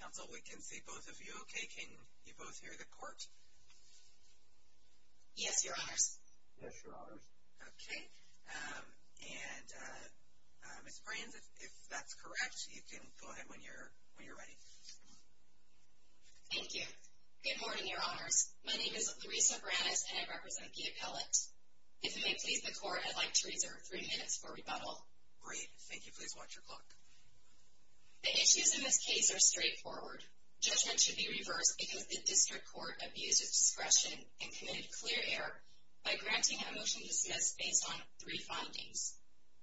Counsel, we can see both of you okay. Can you both hear the court? Yes, your honors. Yes, your honors. Okay, and Ms. Brands, if that's correct, you can go ahead when you're ready. Thank you. Good morning, your honors. My name is Larissa Brandes, and I represent the appellate. If you may please the court, I'd like to reserve three minutes for rebuttal. Great. Thank you. Please watch your clock. The issues in this case are straightforward. Judgment should be reversed because the district court abused its discretion and committed clear error by granting a motion to dismiss based on three findings.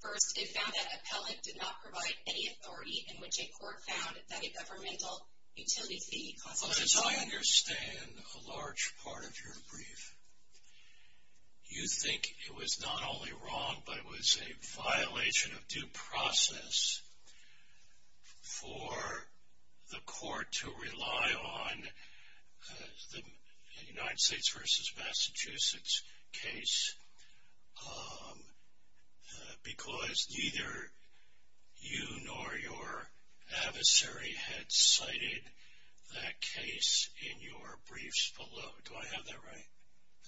First, it found that appellate did not provide any authority in which a court found that a governmental utility fee... As far as I understand a large part of your brief, you think it was not only wrong, but it was a violation of due process for the court to rely on the United States versus Massachusetts case because neither you nor your adversary had cited that case in your briefs below. Do I have that right?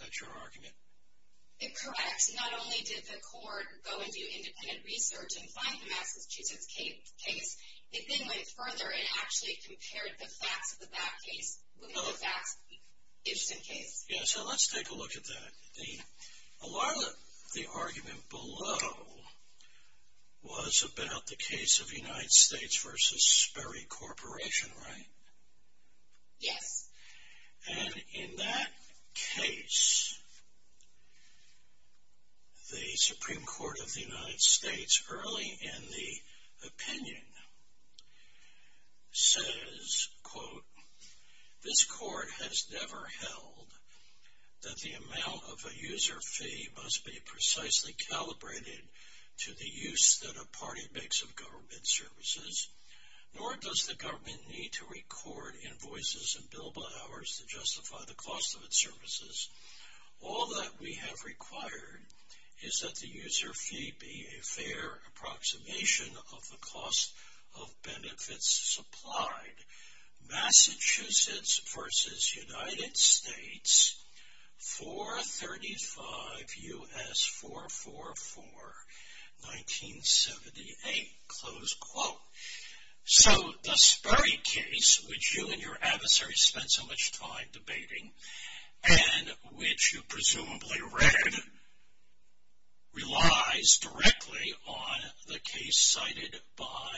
That's your argument? It's correct. Not only did the court go and do independent research and find the Massachusetts case, it then went further and actually compared the facts of that case with the facts of the Gibson case. Yeah, so let's take a look at that. A lot of the argument below was about the case of United States versus Sperry Corporation, right? Yes. And in that case, the Supreme Court of the United States early in the opinion says, quote, this court has never held that the amount of a user fee must be precisely calibrated to the use that a party makes of government services, nor does the government need to record invoices and billable hours to justify the cost of its services. All that we have required is that the user fee be a fair approximation of the cost of benefits supplied. Massachusetts versus United States, 435 U.S. 444, 1978, close quote. So the Sperry case, which you and your adversary spent so much time debating and which you presumably read, relies directly on the case cited by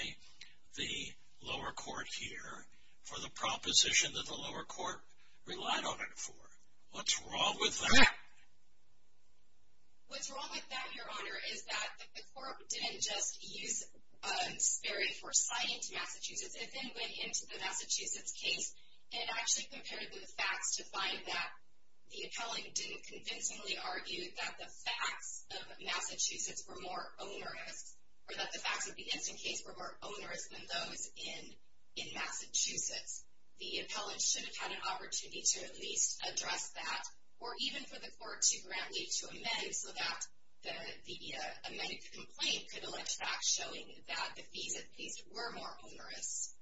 the lower court here for the proposition that the lower court relied on it for. What's wrong with that? What's wrong with that, Your Honor, is that the court didn't just use Sperry for citing to Massachusetts, it then went into the Massachusetts case and actually compared the facts to find that the appellate didn't convincingly argue that the facts of Massachusetts were more onerous or that the facts of the instant case were more onerous than those in Massachusetts. The appellate should have had an opportunity to at least address that or even for the court to grant need to amend so that the amended complaint could be more onerous.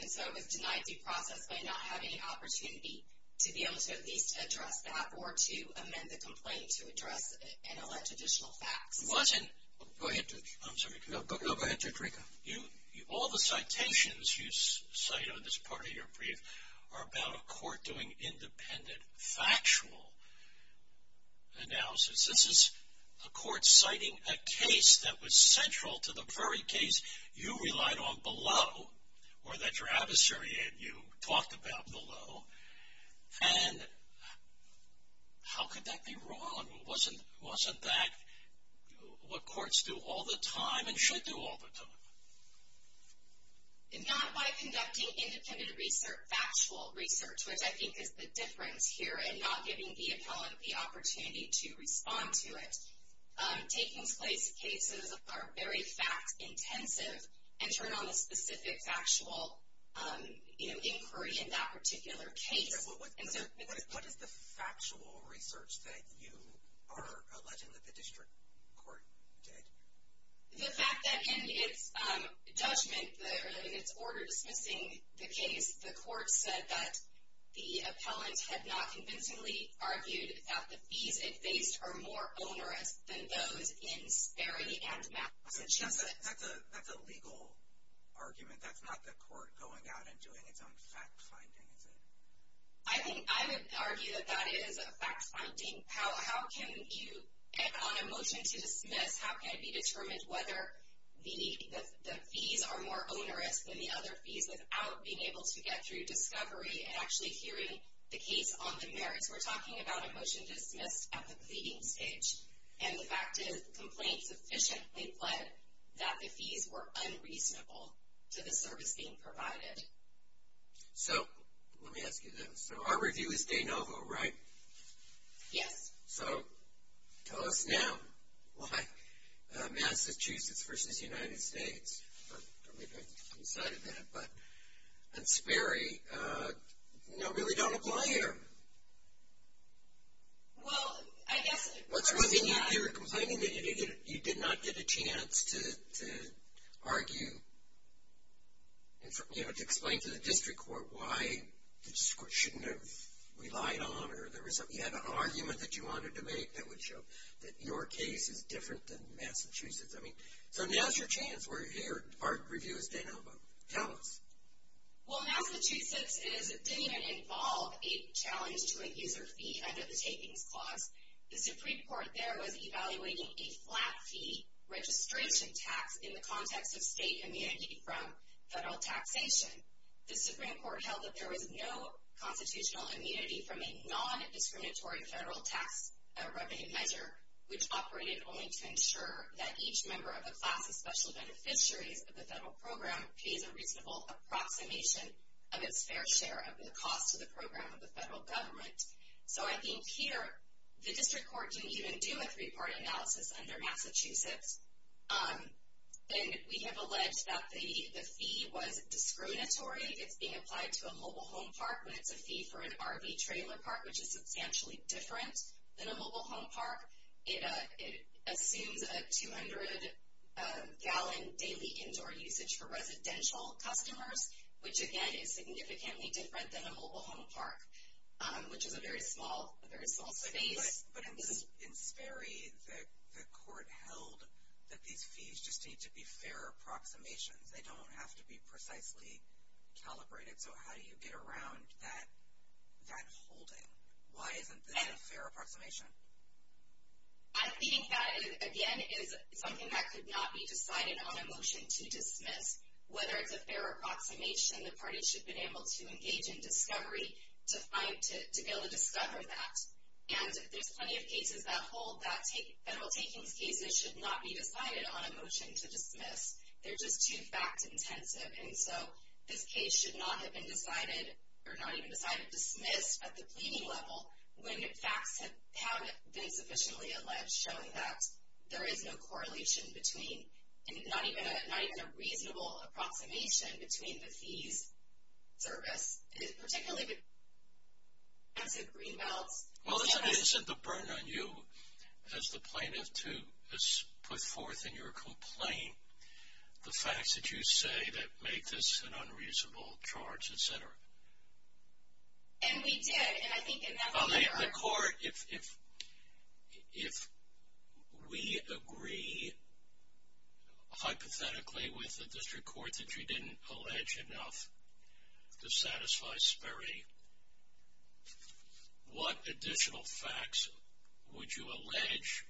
And so it was denied due process by not having an opportunity to be able to at least address that or to amend the complaint to address and allege additional facts. It wasn't. Go ahead, Judge. I'm sorry. No, go ahead, Judge Rieker. You, all the citations you cite on this part of your brief are about a court doing independent factual analysis. This is a court citing a case that was central to the Sperry case. You relied on below or that your adversary had you talked about below and how could that be wrong? Wasn't that what courts do all the time and should do all the time? Not by conducting independent research, factual research, which I think is the difference here in not giving the appellate the opportunity to respond to it. Taking place cases are very fact intensive and turn on the specific factual inquiry in that particular case. What is the factual research that you are alleging that the district court did? The fact that in its judgment, in its order dismissing the case, the court said that the appellant had not convincingly argued that the fees it faced are more onerous than those in Sperry and Massachusetts. That's a legal argument. That's not the court going out and doing its own fact finding, is it? I would argue that that is a fact finding. How can you, on a motion to dismiss, how can it be determined whether the fees are more onerous than the other fees without being able to get through discovery and actually hearing the case on the merits? We're talking about a motion dismissed at the pleading stage, and the fact is the complaint sufficiently pled that the fees were unreasonable to the service being provided. So, let me ask you this. So, our review is de novo, right? Yes. So, tell us now why Massachusetts versus United States, I'm sorry about that, but why Massachusetts versus United States? Well, I guess... What's wrong? You're complaining that you did not get a chance to argue, and to explain to the district court why the district court shouldn't have relied on, or you had an argument that you wanted to make that would show that your case is different than Massachusetts. So, now's your chance. Our review is de novo. Tell us. Well, Massachusetts didn't even involve a challenge to a user fee under the tapings clause. The Supreme Court there was evaluating a flat fee registration tax in the context of state immunity from federal taxation. The Supreme Court held that there was no constitutional immunity from a non-discriminatory federal tax revenue measure, which operated only to ensure that each member of the class of special beneficiaries of the federal program pays a reasonable approximation of its fair share of the cost to the program of the federal government. So, I think here, the district court didn't even do a three-part analysis under Massachusetts, and we have alleged that the fee was discriminatory. It's being applied to a mobile home park when it's a fee for an RV trailer park, which is substantially different than a mobile home park. It assumes a 200-gallon daily indoor usage for residential customers, which, again, is significantly different than a mobile home park, which is a very small space. But in Sperry, the court held that these fees just need to be fair approximations. They don't have to be precisely calibrated. So, how do you get around that holding? Why isn't this fair approximation? I think that, again, is something that could not be decided on a motion to dismiss. Whether it's a fair approximation, the party should have been able to engage in discovery to be able to discover that. And there's plenty of cases that hold that federal takings cases should not be decided on a motion to dismiss. They're just too fact-intensive. And so, this case should not have been decided, or not even decided, dismissed at the pleading level when facts have been sufficiently alleged showing that there is no correlation between, and not even a reasonable approximation between the fees, service, particularly with expensive green belts. Well, isn't the burden on you, as the plaintiff, too, is put forth in your complaint, the facts that you say that make this an unreasonable charge, et cetera? And we did, and I think in that regard. If we agree, hypothetically, with the district court that you didn't allege enough to satisfy Sperry, what additional facts would you allege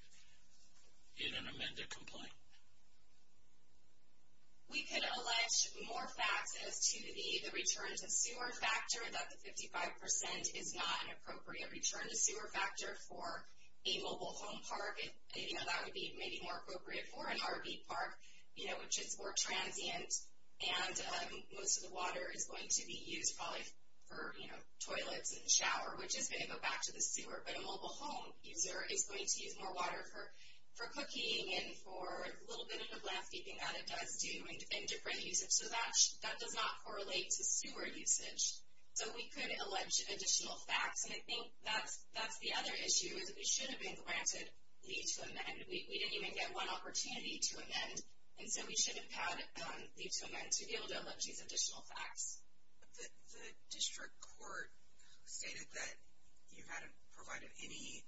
in an amended complaint? We could allege more facts as to the return to sewer factor, that the 55% is not an appropriate return to sewer factor for a mobile home park. That would be maybe more appropriate for an RV park, which is more transient, and most of the water is going to be used probably for toilets and shower, which is going to go back to the sewer. But a mobile home user is going to use more water for cooking and for a little bit of landscaping that it does do in different uses. So that does not correlate to sewer usage. So we could allege additional facts, and I think that's the other issue is that we should have been granted leave to amend. We didn't even get one opportunity to amend, and so we should have had leave to amend to be able to allege these additional facts. The district court stated that you hadn't provided any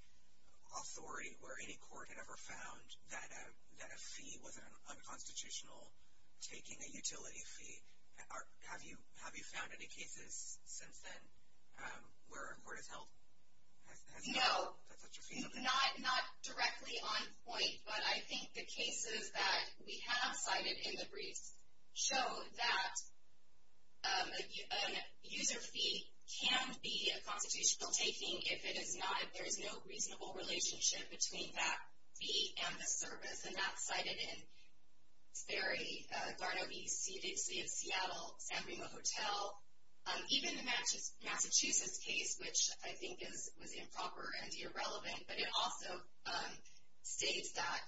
authority where any court had ever found that a fee was unconstitutional taking a utility fee. Have you found any cases since then where a court has held such a fee? No, not directly on point, but I think the cases that we have cited in the briefs show that a user fee can be a constitutional taking if it is not, if there is no reasonable relationship between that fee and the service. And that's cited in Sperry, Garneau Beach, City of Seattle, San Remo Hotel, even the Massachusetts case, which I think was improper and irrelevant. But it also states that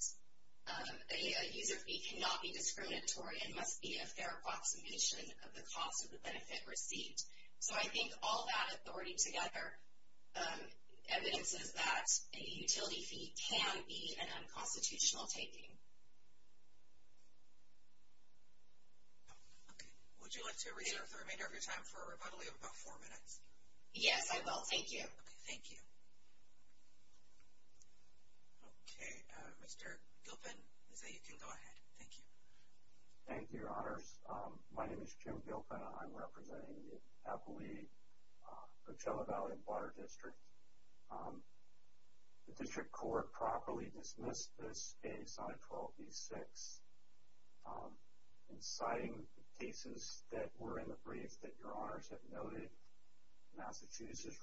a user fee cannot be discriminatory and must be a fair approximation of the cost of the benefit received. So I think all that authority together evidences that a utility fee can be an unconstitutional taking. Okay. Would you like to reserve the remainder of your time for a rebuttal? You have about four minutes. Yes, I will. Thank you. Okay. Thank you. Okay. Mr. Gilpin, I say you can go ahead. Thank you. Thank you, Your Honors. My name is Jim Gilpin. I'm representing the Appalachee Coachella Valley and Water District. The District Court properly dismissed this case, I-12B-6, inciting the cases that were in the briefs that Your Honors have noted. Massachusetts,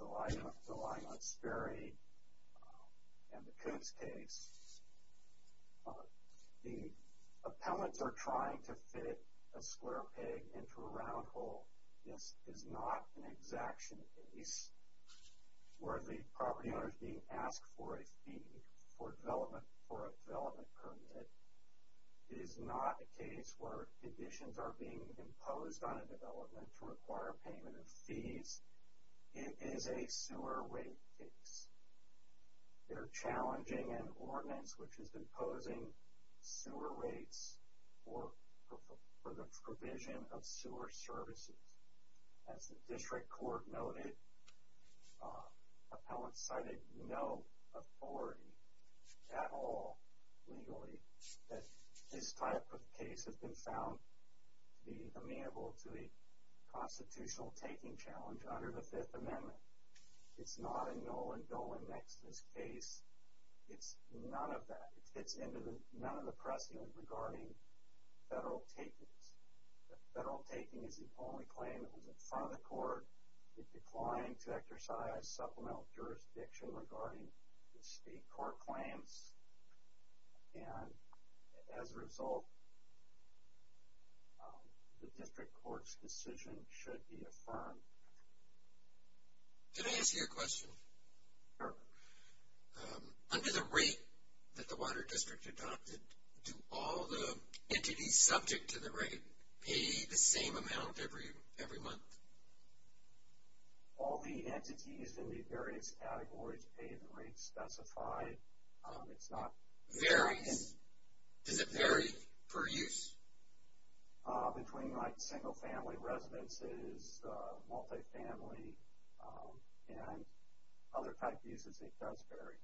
relying on Sperry and the Coots case. The appellants are trying to fit a square peg into a round hole. This is not an exaction case where the property owner is being asked for a fee for development, for a development permit. It is not a case where conditions are being imposed on a development to require a payment of fees. It is a sewer rate case. They're challenging an ordinance which is imposing sewer rates for the provision of sewer services. As the District Court noted, appellants cited no authority at all legally that this type of case has been found to be amenable to a constitutional taking challenge under the Fifth Amendment. It's not a Nolan-Dolan-Nextas case. It's none of that. It fits into none of the precedent regarding federal takings. Federal taking is the only claim that was in front of the court. It declined to exercise supplemental jurisdiction regarding the state court claims. And as a result, the District Court's decision should be affirmed. Did I ask you a question? Sure. Under the rate that the Water District adopted, do all the entities subject to the rate pay the same amount every month? All the entities in the various categories pay the rate specified. It's not... Varies? Does it vary per use? Between like single-family residences, multi-family, and other type uses, it does vary.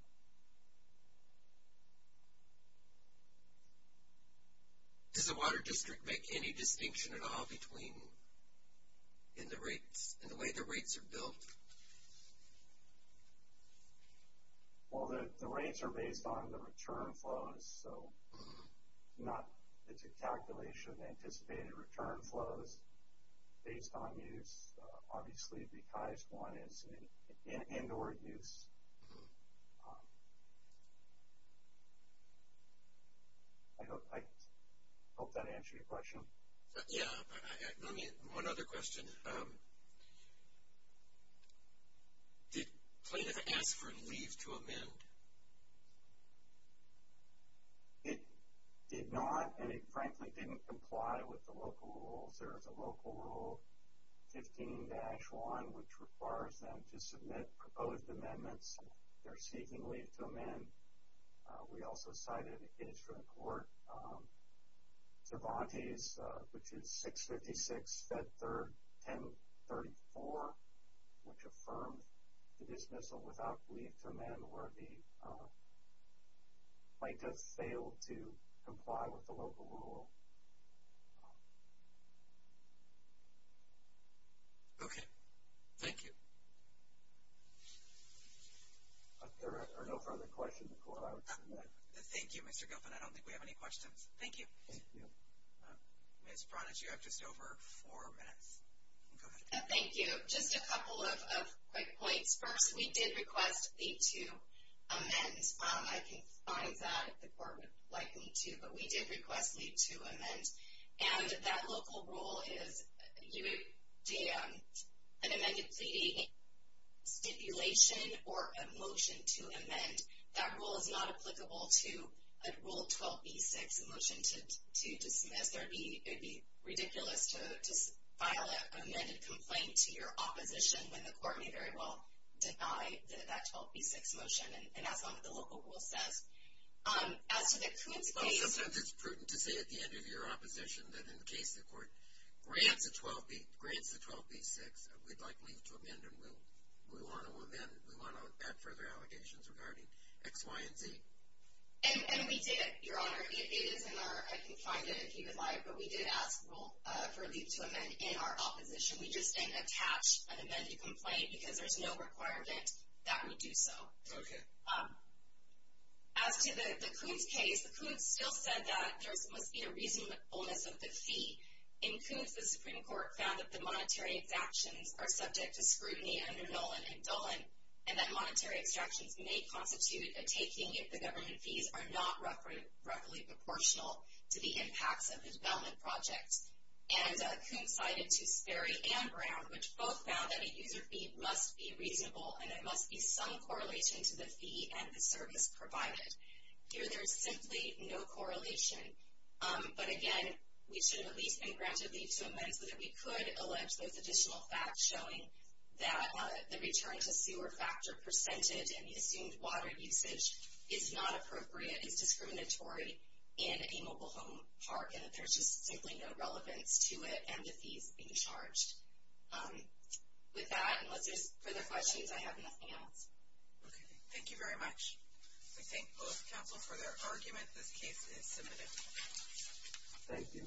Does the Water District make any distinction at all between the rates and the way the rates are built? Well, the rates are based on the return flows, so not... It's a calculation. Anticipated return flows based on use, obviously, because one is end-or-use. I hope that answered your question. Yeah. One other question. Did plaintiff ask for leave to amend? It did not, and it frankly didn't comply with the local rules. There's a local rule 15-1, which requires them to submit proposed amendments if they're seeking leave to amend. We also cited a case from the court, Cervantes, which is 656 Fed 3rd 1034, which affirmed the dismissal without leave to amend where the plaintiff failed to comply with the local rule. Okay. Thank you. There are no further questions. Thank you, Mr. Gilpin. I don't think we have any questions. Thank you. Ms. Cervantes, you have just over four minutes. Thank you. Just a couple of quick points. First, we did request leave to amend. I can find that the court would like me to, but we did request leave to amend, and that local rule is you would do an amended plea stipulation or a motion to amend. That rule is not applicable to a Rule 12b-6 motion to dismiss, or it would be ridiculous to file an amended complaint to your opposition when the court may very well deny that 12b-6 motion, and as long as the local rule says. As to the Coons case- Sometimes it's prudent to say at the end of your opposition that in the case the court grants the 12b-6, we'd like leave to amend, and we want to add further allegations regarding X, Y, and Z. And we did, Your Honor. It is in our- I can find it if you would like, but we did ask for leave to amend in our opposition. We just didn't attach an amended complaint because there's no requirement that we do so. Okay. As to the Coons case, the Coons still said that there must be a reasonableness of the fee in Coons. The Supreme Court found that the monetary exactions are subject to scrutiny under Nolan and Dolan, and that monetary extractions may constitute a taking if the government fees are not roughly proportional to the impacts of the development project. And Coons cited to Sperry and Brown, which both found that a user fee must be reasonable, and there must be some correlation to the fee and the service provided. Here, there's simply no correlation. But again, we should have at least been granted leave to amend so that we could allege those additional facts showing that the return to sewer factor percentage and the assumed water usage is not appropriate, is discriminatory in a mobile home park, and that there's just simply no relevance to it and the fees being charged. With that, unless there's further questions, I have nothing else. Okay. Thank you very much. I thank both counsel for their argument. This case is submitted. Thank you.